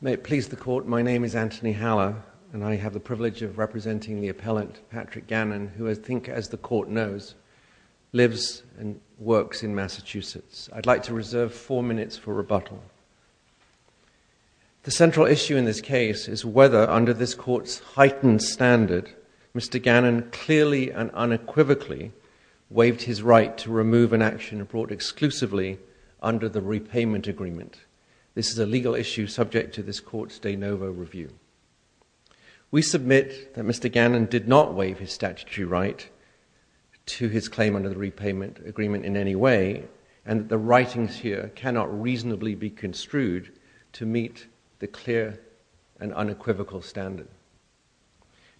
May it please the Court, my name is Anthony Haller, and I have the privilege of representing the appellant Patrick Gannon, who I think, as the Court knows, lives and works in Massachusetts. I'd like to reserve four minutes for rebuttal. The central issue in this case is whether, under this Court's heightened standard, Mr. Gannon clearly and unequivocally waived his right to remove an action brought exclusively under the repayment agreement. This is a legal issue subject to this Court's de novo review. We submit that Mr. Gannon did not waive his statutory right to his claim under the repayment agreement in any way, and that the writings here cannot reasonably be construed to meet the clear and unequivocal standard.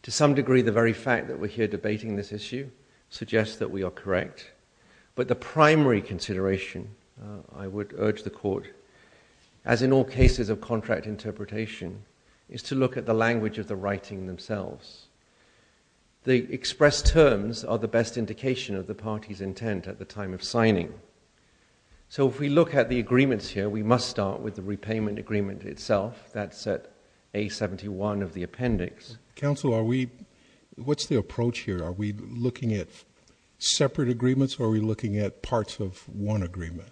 To some degree, the very fact that we're here debating this issue suggests that we are correct. But the primary consideration, I would urge the Court, as in all cases of contract interpretation, is to look at the language of the writing themselves. The expressed terms are the best indication of the party's intent at the time of signing. So if we look at the agreements here, we must start with the repayment agreement itself. That's at A71 of the appendix. Counsel, are we, what's the approach here? Are we looking at separate agreements, or are we looking at parts of one agreement?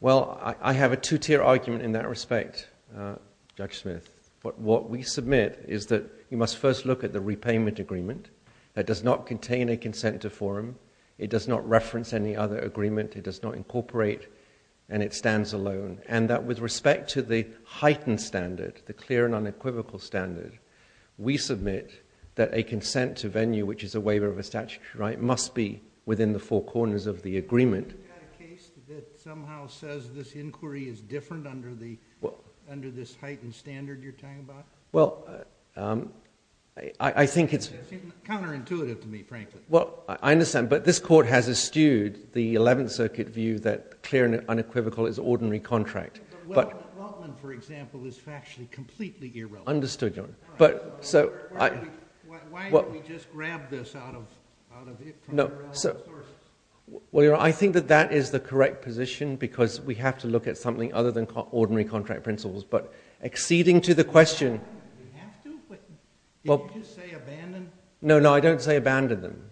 Well, I have a two-tier argument in that respect, Judge Smith. But what we submit is that you must first look at the repayment agreement that does not contain a consent to forum. It does not reference any other agreement, it does not incorporate, and it stands alone. And that with respect to the heightened standard, the clear and unequivocal standard, we submit that a consent to venue, which is a waiver of a statutory right, must be within the four corners of the agreement. Is that a case that somehow says this inquiry is different under this heightened standard you're talking about? Well, I think it's- It's counterintuitive to me, frankly. Well, I understand, but this Court has eschewed the 11th Circuit view that clear and unequivocal is ordinary contract. Well, the Weltman, for example, is factually completely irrelevant. Understood, Your Honor. But, so, I- Why don't we just grab this out of it? No, so, well, Your Honor, I think that that is the correct position, because we have to look at something other than ordinary contract principles. But, acceding to the question- We have to, but did you just say abandon? No, no, I don't say abandon them.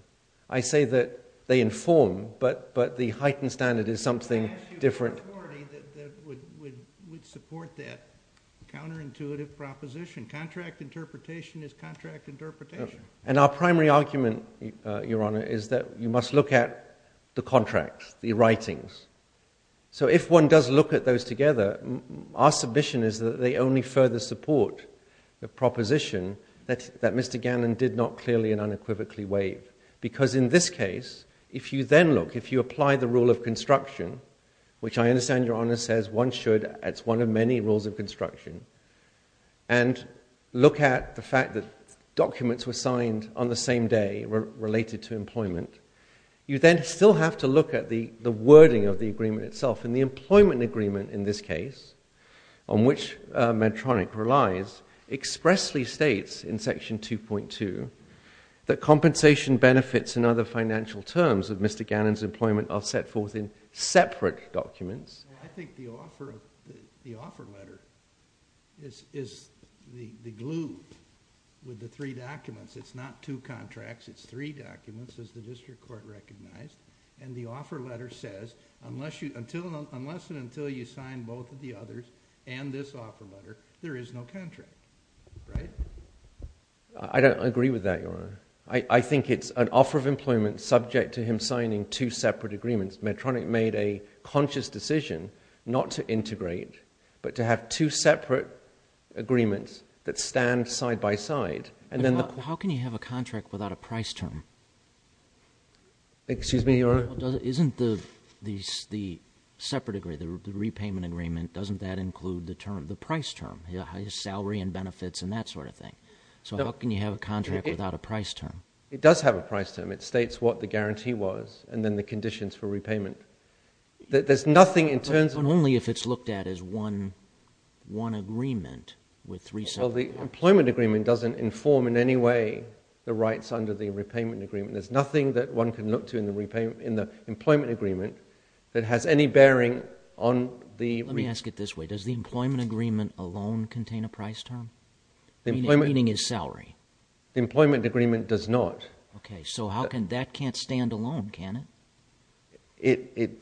I say that they inform, but the heightened standard is something different. I asked you for authority that would support that counterintuitive proposition. Contract interpretation is contract interpretation. And our primary argument, Your Honor, is that you must look at the contracts, the writings. So, if one does look at those together, our submission is that they only further support the proposition that Mr. Gannon did not clearly and unequivocally waive. Because, in this case, if you then look, if you apply the rule of construction, which I understand Your Honor says one should, it's one of many rules of construction, and look at the fact that documents were signed on the same day, related to employment, you then still have to look at the wording of the agreement itself. And the employment agreement in this case, on which Medtronic relies, expressly states in Section 2.2 that compensation benefits and other financial terms of Mr. Gannon's employment are set forth in separate documents. I think the offer letter is the glue with the three documents. It's not two contracts, it's three documents, as the district court recognized. And the offer letter says, unless and until you sign both of the others, and this offer letter, there is no contract. I don't agree with that, Your Honor. I think it's an offer of employment subject to him signing two separate agreements. Medtronic made a conscious decision not to integrate, but to have two separate agreements that stand side by side. And then the- How can you have a contract without a price term? Excuse me, Your Honor? Isn't the separate agreement, the repayment agreement, doesn't that include the price term, salary and benefits and that sort of thing? So how can you have a contract without a price term? It does have a price term. It states what the guarantee was, and then the conditions for repayment. There's nothing in terms of- But only if it's looked at as one agreement with three separate- Well, the employment agreement doesn't inform in any way the rights under the repayment agreement. There's nothing that one can look to in the employment agreement that has any bearing on the- Let me ask it this way. Does the employment agreement alone contain a price term? Meaning his salary? The employment agreement does not. Okay, so how can- That can't stand alone, can it?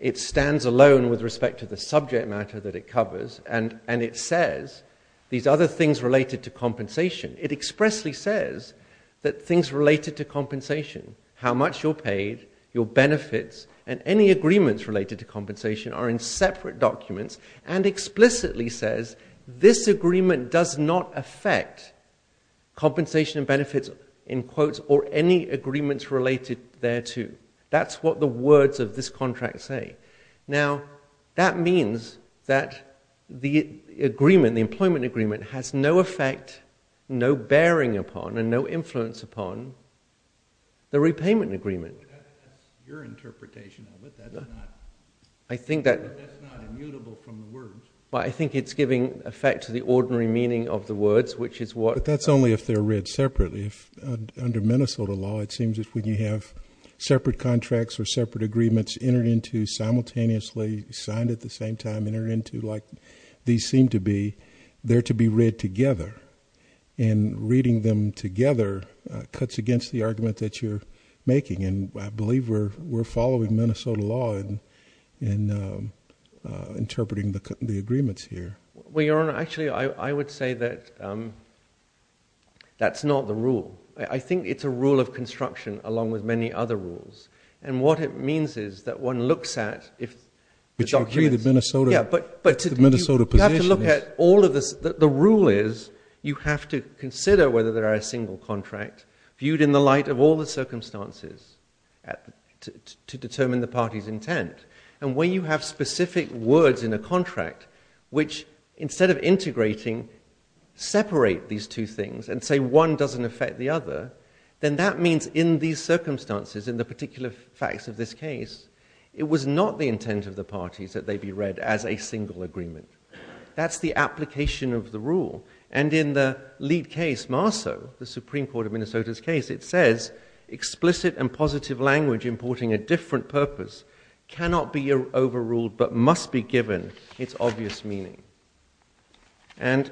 It stands alone with respect to the subject matter that it covers, and it says these other things related to compensation. It expressly says that things related to compensation, how much you're paid, your benefits, and any agreements related to compensation are in separate documents, and explicitly says this agreement does not affect compensation and benefits in quotes or any agreements related thereto. That's what the words of this contract say. Now, that means that the agreement, the employment agreement, has no effect, no bearing upon, and no influence upon the repayment agreement. That's your interpretation of it. That's not immutable from the words. Well, I think it's giving effect to the ordinary meaning of the words, which is what- But that's only if they're read separately. If under Minnesota law, it seems that when you have separate contracts or separate agreements entered into simultaneously, signed at the same time, entered into like these seem to be, they're to be read together. And reading them together cuts against the argument that you're making. And I believe we're following Minnesota law and interpreting the agreements here. Well, Your Honor, actually, I would say that that's not the rule. I think it's a rule of construction along with many other rules. And what it means is that one looks at if- But you agree that Minnesota- Yeah, but- But the Minnesota position is- You have to look at all of this. The rule is you have to consider whether there are a single contract viewed in the light of all the circumstances to determine the party's intent. And when you have specific words in a contract, which instead of integrating, separate these two things and say one doesn't affect the other, then that means in these circumstances, in the particular facts of this case, it was not the intent of the parties that they be read as a single agreement. That's the application of the rule. And in the lead case, MARSO, the Supreme Court of Minnesota's case, it says explicit and positive language importing a different purpose cannot be overruled but must be given its obvious meaning. And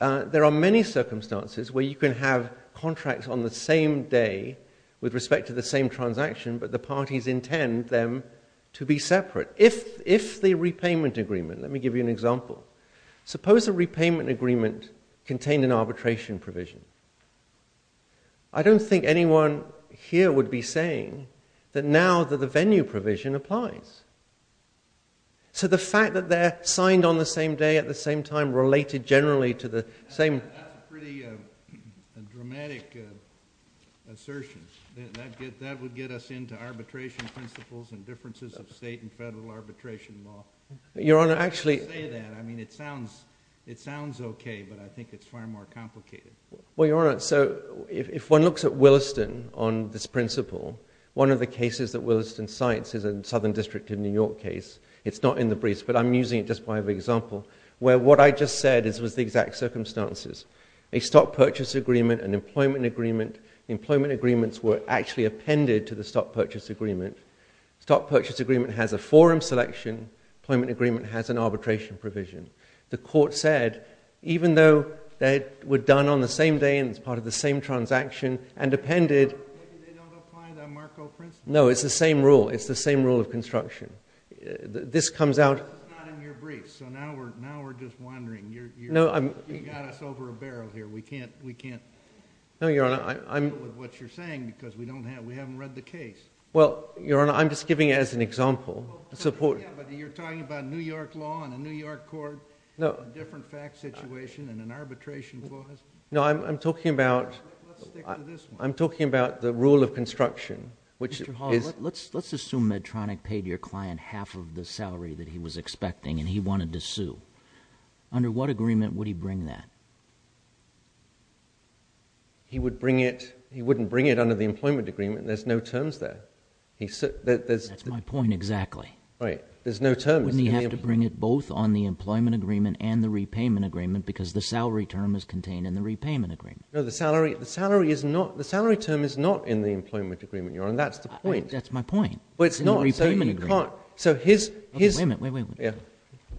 there are many circumstances where you can have contracts on the same day with respect to the same transaction but the parties intend them to be separate. If the repayment agreement- Let me give you an example. Suppose a repayment agreement contained an arbitration provision. I don't think anyone here would be saying that now that the venue provision applies. So the fact that they're signed on the same day at the same time related generally to the same- That's a pretty dramatic assertion. That would get us into arbitration principles and differences of state and federal arbitration law. Your Honor, actually- Don't say that. I mean, it sounds okay but I think it's far more complicated. Well, Your Honor, so if one looks at Williston on this principle, one of the cases that Williston cites is a Southern District of New York case. It's not in the briefs but I'm using it just by example where what I just said was the exact circumstances. A stock purchase agreement, an employment agreement. Employment agreements were actually appended to the stock purchase agreement. Stock purchase agreement has a forum selection. Employment agreement has an arbitration provision. The court said even though they were done on the same day and it's part of the same transaction and appended- Maybe they don't apply that Marco principle. No, it's the same rule. It's the same rule of construction. This comes out- It's not in your briefs. So now we're just wondering. No, I'm- You got us over a barrel here. We can't deal with what you're saying because we haven't read the case. Well, Your Honor, I'm just giving it as an example. It's important. Yeah, but you're talking about New York law and a New York court, a different fact situation and an arbitration clause. No, I'm talking about- Let's stick to this one. I'm talking about the rule of construction, which is- Mr. Hall, let's assume Medtronic paid your client half of the salary that he was expecting and he wanted to sue. Under what agreement would he bring that? He would bring it. He wouldn't bring it under the employment agreement. There's no terms there. That's my point exactly. Right, there's no terms. Wouldn't he have to bring it both on the employment agreement and the repayment agreement because the salary term is contained in the repayment agreement? No, the salary term is not in the employment agreement, Your Honor, that's the point. That's my point. Well, it's not. In the repayment agreement. So his- Wait a minute, wait, wait, wait.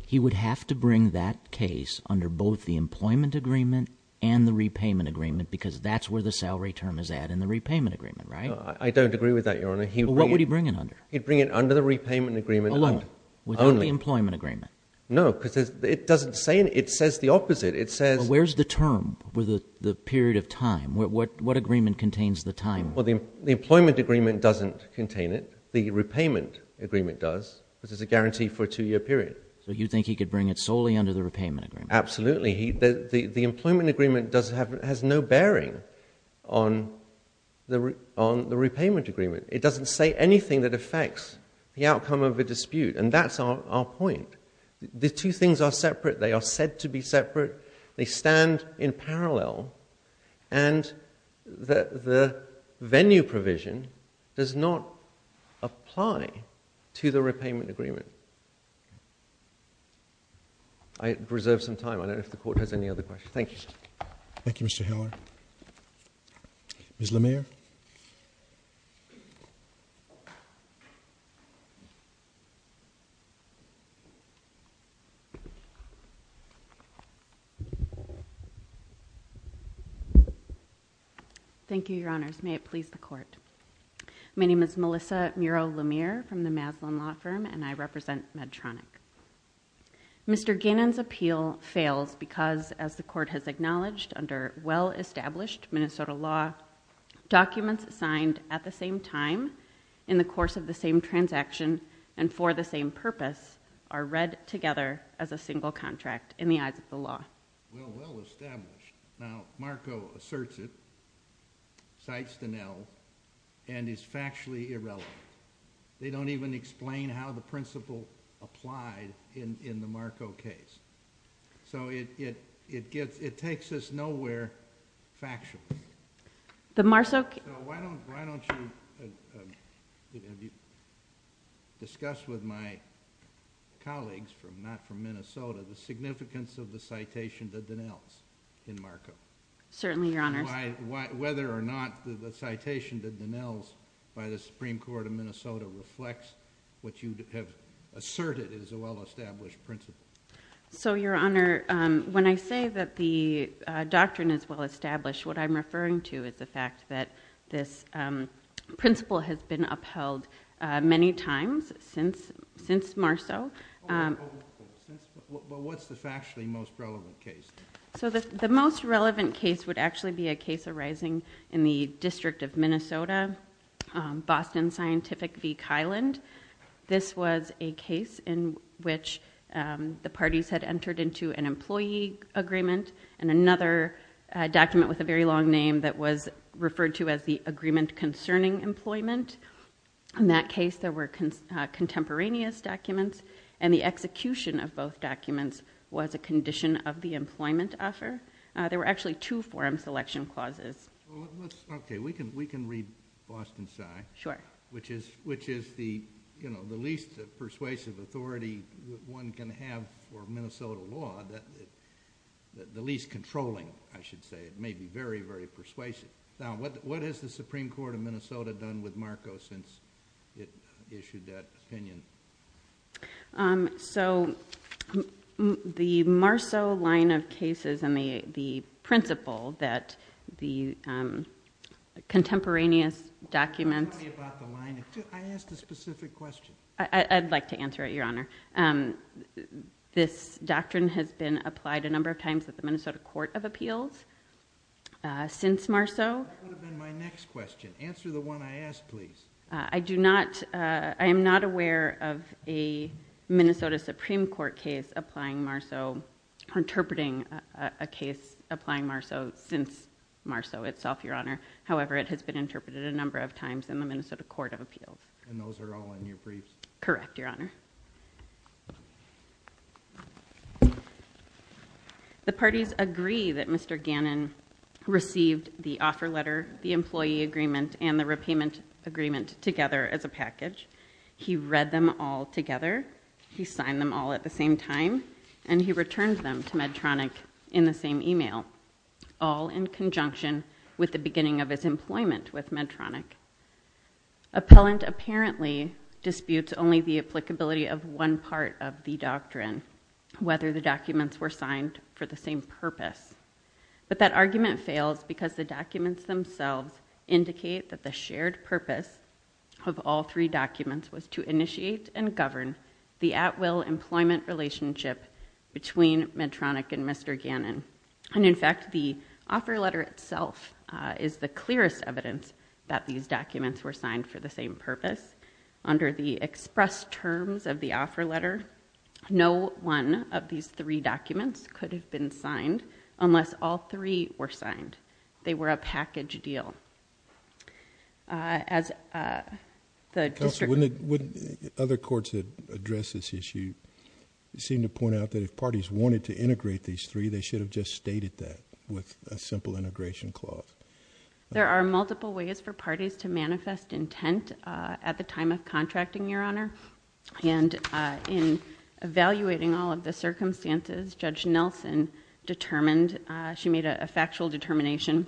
He would have to bring that case under both the employment agreement and the repayment agreement because that's where the salary term is at, in the repayment agreement, right? I don't agree with that, Your Honor. What would he bring it under? He'd bring it under the repayment agreement only. Alone, without the employment agreement? No, because it doesn't say, it says the opposite. It says- Where's the term for the period of time? What agreement contains the time? Well, the employment agreement doesn't contain it. The repayment agreement does because it's a guarantee for a two-year period. So you think he could bring it solely under the repayment agreement? Absolutely. The employment agreement has no bearing on the repayment agreement. It doesn't say anything that affects the outcome of a dispute, and that's our point. The two things are separate. They are said to be separate. They stand in parallel, and the venue provision does not apply to the repayment agreement. I reserve some time. I don't know if the Court has any other questions. Thank you. Thank you, Mr. Hiller. Ms. Lemire. Thank you, Your Honors. May it please the Court. My name is Melissa Miro-Lemire from the Maslin Law Firm, and I represent Medtronic. Mr. Gannon's appeal fails because, as the Court has acknowledged, under well-established Minnesota law, documents signed at the same time in the course of the same transaction and for the same purpose are read together as a single contract in the eyes of the law. Well, well-established. Now, Marko asserts it, cites Donnell, and is factually irrelevant. They don't even explain how the principle applied in the Marko case. So, it takes us nowhere factually. The Marso case. So, why don't you discuss with my colleagues, not from Minnesota, the significance of the citation to Donnell's in Marko? Certainly, Your Honors. Whether or not the citation to Donnell's by the Supreme Court of Minnesota reflects what you have asserted is a well-established principle. So, Your Honor, when I say that the doctrine is well-established, what I'm referring to is the fact that this principle has been upheld many times since Marso. Well, what's the factually most relevant case? So, the most relevant case would actually be a case arising in the District of Minnesota, Boston Scientific v. Kyland. This was a case in which the parties had entered into an employee agreement, and another document with a very long name that was referred to as the Agreement Concerning Employment. In that case, there were contemporaneous documents, and the execution of both documents was a condition of the employment offer. There were actually two forum selection clauses. Well, let's, okay, we can read Boston Sci. Sure. Which is the least persuasive authority one can have for Minnesota law, the least controlling, I should say. It may be very, very persuasive. Now, what has the Supreme Court of Minnesota done with Marko since it issued that opinion? So, the Marso line of cases and the principle that the contemporaneous documents. Tell me about the line. I asked a specific question. I'd like to answer it, Your Honor. This doctrine has been applied a number of times at the Minnesota Court of Appeals since Marso. That would have been my next question. Answer the one I asked, please. I do not, I am not aware of a Minnesota Supreme Court case applying Marso, interpreting a case applying Marso since Marso itself, Your Honor. However, it has been interpreted a number of times in the Minnesota Court of Appeals. And those are all in your briefs? Correct, Your Honor. The parties agree that Mr. Gannon received the offer letter, the employee agreement, and the repayment agreement together as a package. He read them all together. He signed them all at the same time. And he returned them to Medtronic in the same email, all in conjunction with the beginning of his employment with Medtronic. Appellant apparently disputes only the applicability of one part of the doctrine, whether the documents were signed for the same purpose. But that argument fails because the documents themselves indicate that the shared purpose of all three documents was to initiate and govern the at-will employment relationship between Medtronic and Mr. Gannon. And in fact, the offer letter itself is the clearest evidence that these documents were signed for the same purpose. Under the express terms of the offer letter, no one of these three documents could have been signed unless all three were signed. They were a package deal. As the district- Counsel, wouldn't other courts that address this issue seem to point out that if parties wanted to integrate these three, they should have just stated that with a simple integration clause? There are multiple ways for parties to manifest intent at the time of contracting, Your Honor. And in evaluating all of the circumstances, Judge Nelson determined, she made a factual determination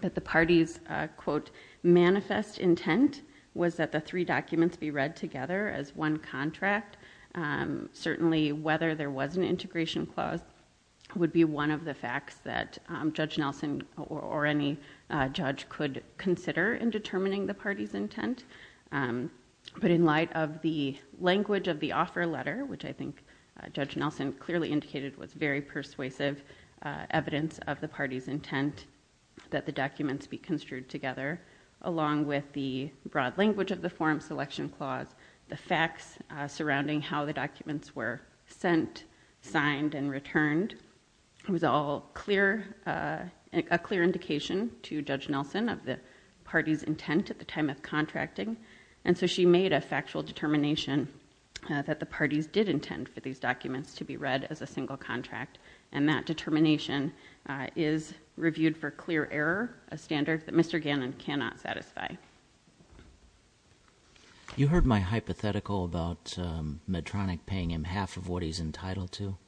that the party's, quote, manifest intent was that the three documents be read together as one contract. Certainly, whether there was an integration clause would be one of the facts that Judge Nelson or any judge could consider in determining the party's intent. But in light of the language of the offer letter, which I think Judge Nelson clearly indicated was very persuasive evidence of the party's intent that the documents be construed together, along with the broad language of the forum selection clause, the facts surrounding how the documents were sent, signed, and returned, it was all clear, a clear indication to Judge Nelson of the party's intent at the time of contracting. And so she made a factual determination that the parties did intend for these documents to be read as a single contract. And that determination is reviewed for clear error, a standard that Mr. Gannon cannot satisfy. You heard my hypothetical about Medtronic paying him half of what he's entitled to.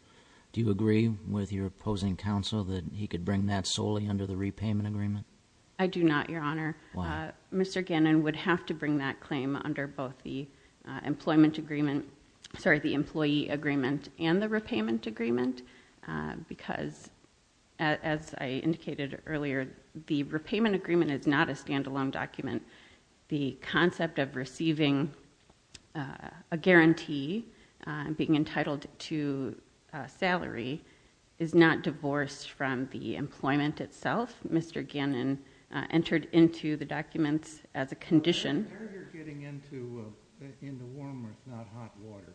Do you agree with your opposing counsel that he could bring that solely under the repayment agreement? I do not, Your Honor. Why? Mr. Gannon would have to bring that claim under both the employment agreement, sorry, the employee agreement and the repayment agreement, because as I indicated earlier, the repayment agreement is not a standalone document. The concept of receiving a guarantee being entitled to a salary is not divorced from the employment itself. Mr. Gannon entered into the documents as a condition. I heard you're getting into into warm, if not hot water,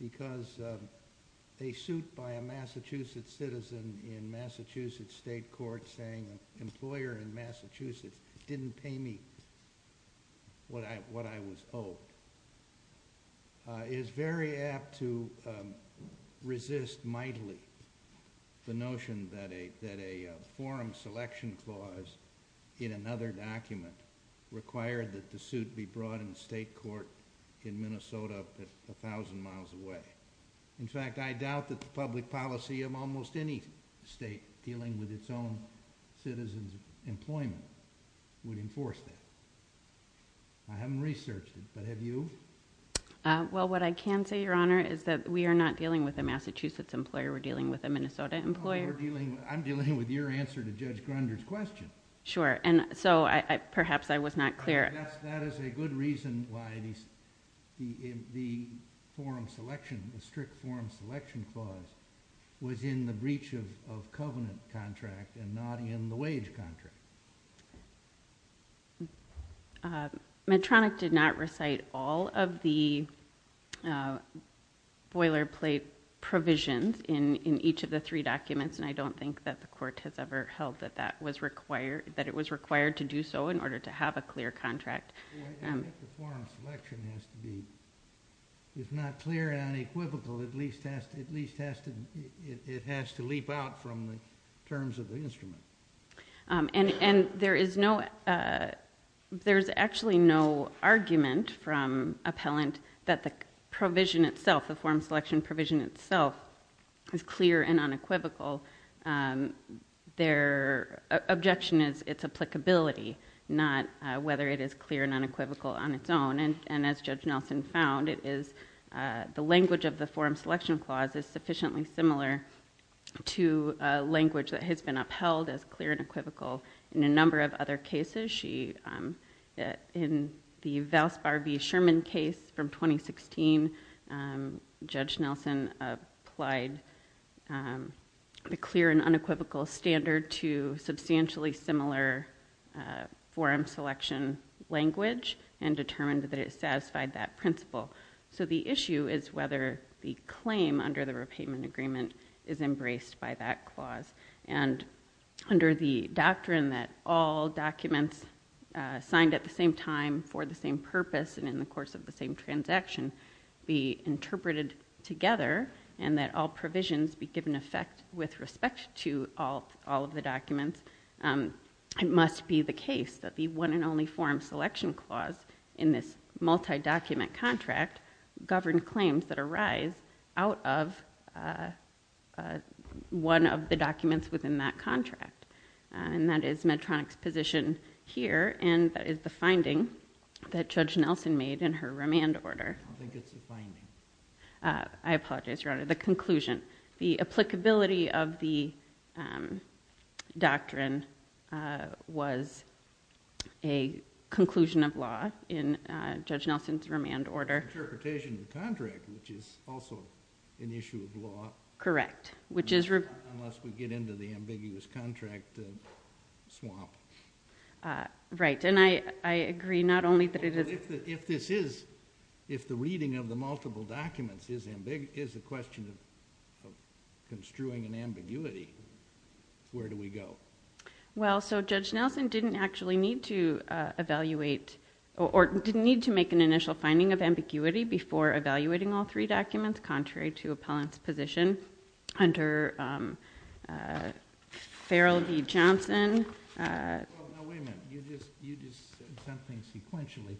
because a suit by a Massachusetts citizen in Massachusetts state court saying an employer in Massachusetts didn't pay me what I was owed is very apt to resist mightily the notion that a forum selection clause in another document required that the suit be brought in state court in Minnesota up to 1,000 miles away. In fact, I doubt that the public policy of almost any state dealing with its own citizen's employment would enforce that. I haven't researched it, but have you? Well, what I can say, Your Honor, is that we are not dealing with a Massachusetts employer. We're dealing with a Minnesota employer. I'm dealing with your answer to Judge Grunder's question. Sure, and so perhaps I was not clear. That is a good reason why the forum selection, the strict forum selection clause was in the breach of covenant contract and not in the wage contract. Medtronic did not recite all of the boilerplate provisions in each of the three documents, and I don't think that the court has ever held that that was required, that it was required to do so in order to have a clear contract. The way that the forum selection has to be, if not clear and unequivocal, at least it has to leap out from the terms of the instrument. And there is no, there's actually no argument from appellant that the provision itself, the forum selection provision itself is clear and unequivocal. Their objection is its applicability, not whether it is clear and unequivocal on its own. And as Judge Nelson found, it is the language of the forum selection clause is sufficiently similar to language that has been upheld as clear and equivocal in a number of other cases. She, in the Valsbar v. Sherman case from 2016, Judge Nelson applied the clear and unequivocal standard to substantially similar forum selection language and determined that it satisfied that principle. So the issue is whether the claim under the repayment agreement is embraced by that clause. And under the doctrine that all documents signed at the same time for the same purpose and in the course of the same transaction be interpreted together, and that all provisions be given effect with respect to all of the documents, it must be the case that the one and only forum selection clause in this multi-document contract govern claims that arise out of one of the documents within that contract. And that is Medtronic's position here, and that is the finding that Judge Nelson made in her remand order. I don't think it's the finding. I apologize, Your Honor, the conclusion. The applicability of the doctrine was a conclusion of law in Judge Nelson's remand order. Interpretation of the contract, which is also an issue of law. Correct, which is. Unless we get into the ambiguous contract swamp. Right, and I agree not only that it is. If this is, if the reading of the multiple documents is a question of construing an ambiguity, where do we go? Well, so Judge Nelson didn't actually need to evaluate, or didn't need to make an initial finding of ambiguity before evaluating all three documents contrary to appellant's position under Farrell v. Johnson. Well, now wait a minute. You just said something sequentially.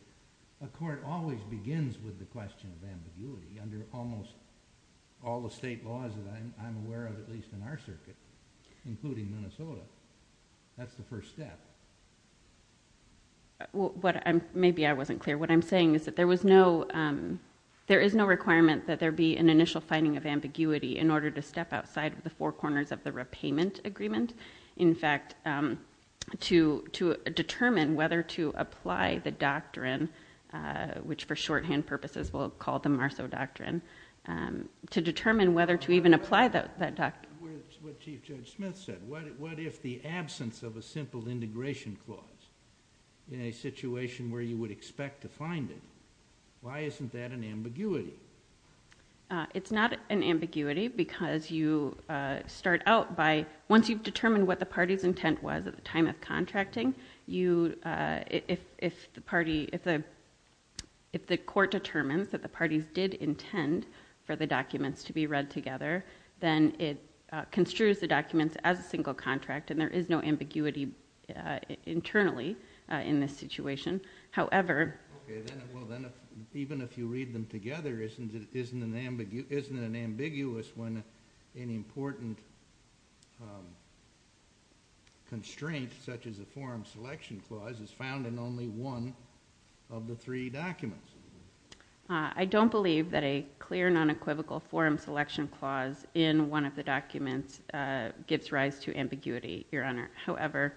A court always begins with the question of ambiguity under almost all the state laws that I'm aware of, at least in our circuit, including Minnesota. That's the first step. Maybe I wasn't clear. What I'm saying is that there was no, there is no requirement that there be an initial finding of ambiguity in order to step outside of the four corners of the repayment agreement. In fact, to determine whether to apply the doctrine, which for shorthand purposes we'll call the Marceau Doctrine to determine whether to even apply that doctrine. What Chief Judge Smith said, what if the absence of a simple integration clause in a situation where you would expect to find it, why isn't that an ambiguity? It's not an ambiguity because you start out by, once you've determined what the party's intent was at the time of contracting, if the party, if the court determines that the parties did intend for the documents to be read together, then it construes the documents as a single contract and there is no ambiguity internally in this situation. However. Well, then even if you read them together, isn't it an ambiguous when an important constraint such as a forum selection clause is found in only one of the three documents? I don't believe that a clear non-equivocal forum selection clause in one of the documents gives rise to ambiguity, Your Honor. However,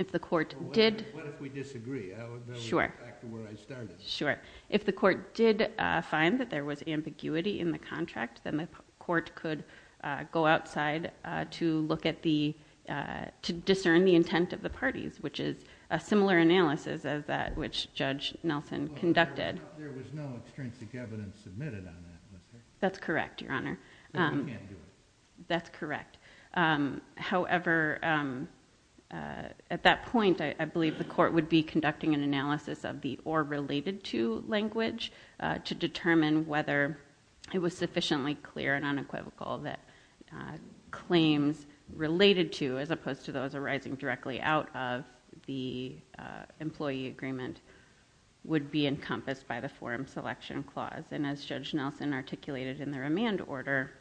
if the court did. What if we disagree? Sure. Back to where I started. Sure. If the court did find that there was ambiguity in the contract, then the court could go outside to look at the, to discern the intent of the parties, which is a similar analysis as that which Judge Nelson conducted. There was no extrinsic evidence submitted on that. That's correct, Your Honor. No, we can't do it. That's correct. However, at that point, I believe the court would be conducting an analysis of the or related to language to determine whether it was sufficiently clear and unequivocal that claims related to, as opposed to those arising directly out of the employee agreement would be encompassed by the forum selection clause. And as Judge Nelson articulated in the remand order,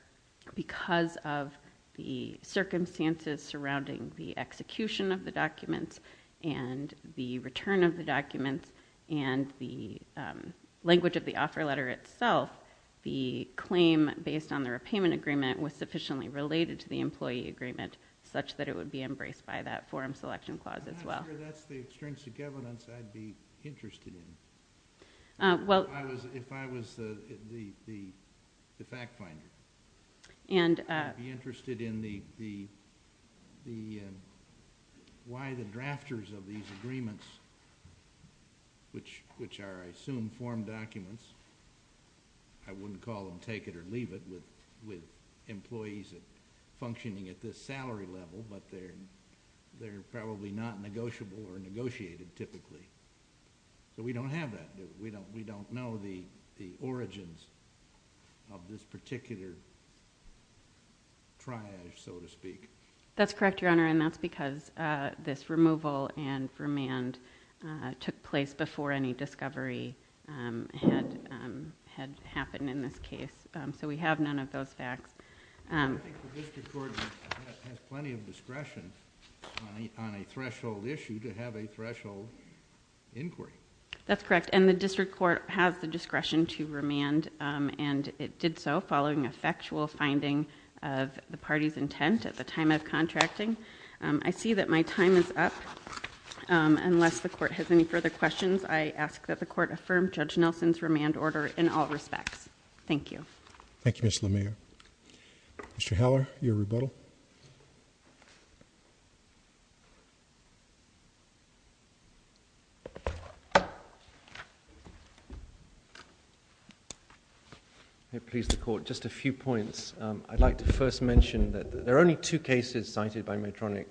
because of the circumstances surrounding the execution of the documents and the return of the documents and the language of the offer letter itself, the claim based on the repayment agreement was sufficiently related to the employee agreement such that it would be embraced by that forum selection clause as well. I'm not sure that's the extrinsic evidence I'd be interested in. Well. If I was the fact finder. And. I'd be interested in the, why the drafters of these agreements, which are, I assume, forum documents, I wouldn't call them take it or leave it, with employees functioning at this salary level, but they're probably not negotiable or negotiated typically. But we don't have that. We don't know the origins of this particular triage, so to speak. That's correct, Your Honor, and that's because this removal and remand took place before any discovery had happened in this case. So we have none of those facts. I think the district court has plenty of discretion on a threshold issue to have a threshold inquiry. That's correct, and the district court has the discretion to remand, and it did so following a factual finding of the party's intent at the time of contracting. I see that my time is up, unless the court has any further questions, I ask that the court affirm Judge Nelson's remand order in all respects. Thank you. Thank you, Ms. LeMayer. Mr. Heller, your rebuttal. May it please the court, just a few points. I'd like to first mention that there are only two cases cited by Medtronic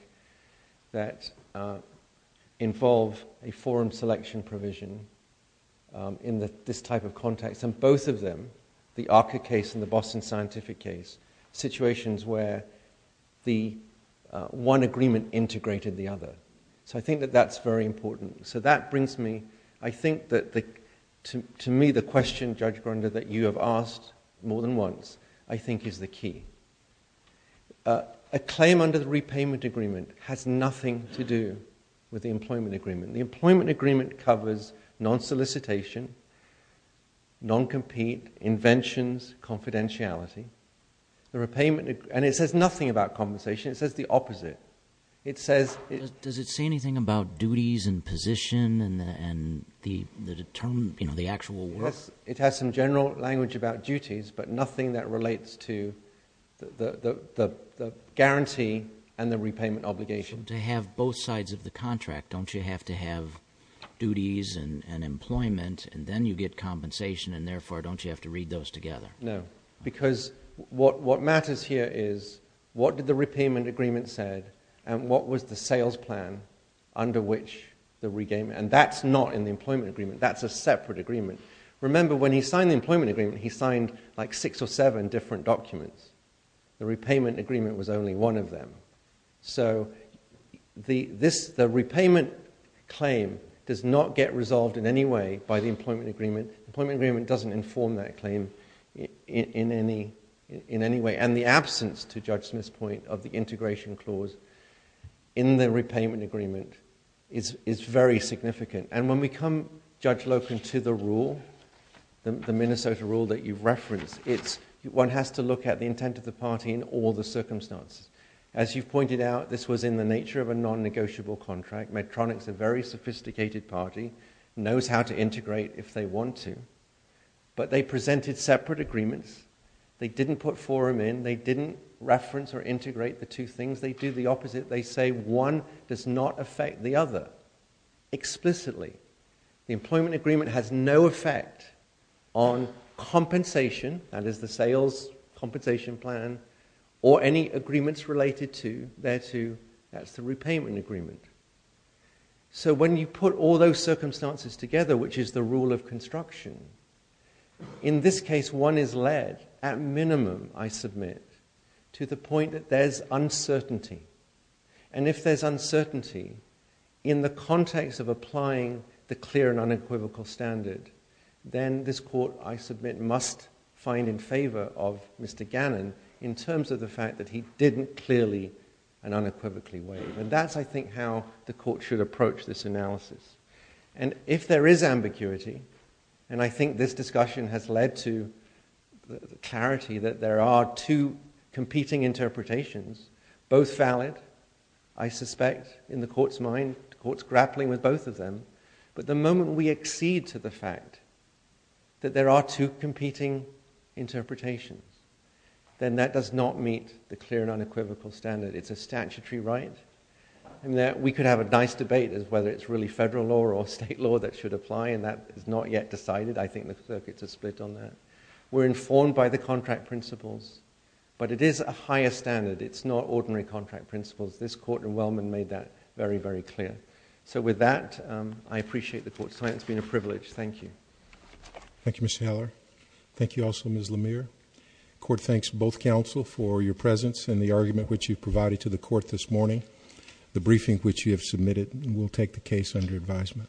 that involve a forum selection provision in this type of context, and both of them, the Arca case and the Boston Scientific case, situations where the one agreement integrated the other. So I think that that's very important. So that brings me, I think that, to me, the question, Judge Grunder, that you have asked more than once, I think is the key. A claim under the repayment agreement has nothing to do with the employment agreement. The employment agreement covers non-solicitation, non-compete, inventions, confidentiality. The repayment, and it says nothing about compensation, it says the opposite. It says, it- Does it say anything about duties and position and the, you know, the actual work? It has some general language about duties, but nothing that relates to the guarantee and the repayment obligation. To have both sides of the contract, don't you have to have duties and employment, and then you get compensation, and therefore, don't you have to read those together? No, because what matters here is what did the repayment agreement said, and what was the sales plan under which the regame, and that's not in the employment agreement. That's a separate agreement. Remember, when he signed the employment agreement, he signed like six or seven different documents. The repayment agreement was only one of them. So, the repayment claim does not get resolved in any way by the employment agreement. Employment agreement doesn't inform that claim in any way, and the absence, to Judge Smith's point, of the integration clause in the repayment agreement is very significant, and when we come, Judge Loken, to the rule, the Minnesota rule that you referenced, it's one has to look at the intent of the party in all the circumstances. As you've pointed out, this was in the nature of a non-negotiable contract. Medtronic's a very sophisticated party, knows how to integrate if they want to, but they presented separate agreements. They didn't put forum in. They didn't reference or integrate the two things. They do the opposite. They say one does not affect the other explicitly. The employment agreement has no effect on compensation, that is the sales compensation plan, or any agreements related to, there to, that's the repayment agreement. So, when you put all those circumstances together, which is the rule of construction, in this case, one is led, at minimum, I submit, to the point that there's uncertainty, and if there's uncertainty in the context of applying the clear and unequivocal standard, then this court, I submit, must find in favor of Mr. Gannon in terms of the fact that he didn't clearly and unequivocally waive, and that's, I think, how the court should approach this analysis, and if there is ambiguity, and I think this discussion has led to clarity that there are two competing interpretations, both valid, I suspect, in the court's mind, the court's grappling with both of them, but the moment we accede to the fact that there are two competing interpretations, then that does not meet the clear and unequivocal standard. It's a statutory right, and we could have a nice debate as whether it's really federal law or state law that should apply, and that is not yet decided. I think the circuits are split on that. We're informed by the contract principles, but it is a higher standard. It's not ordinary contract principles. This court in Wellman made that very, very clear. So with that, I appreciate the court's time. It's been a privilege. Thank you. Thank you, Mr. Heller. Thank you also, Ms. Lemire. Court thanks both counsel for your presence and the argument which you've provided to the court this morning. The briefing which you have submitted will take the case under advisement.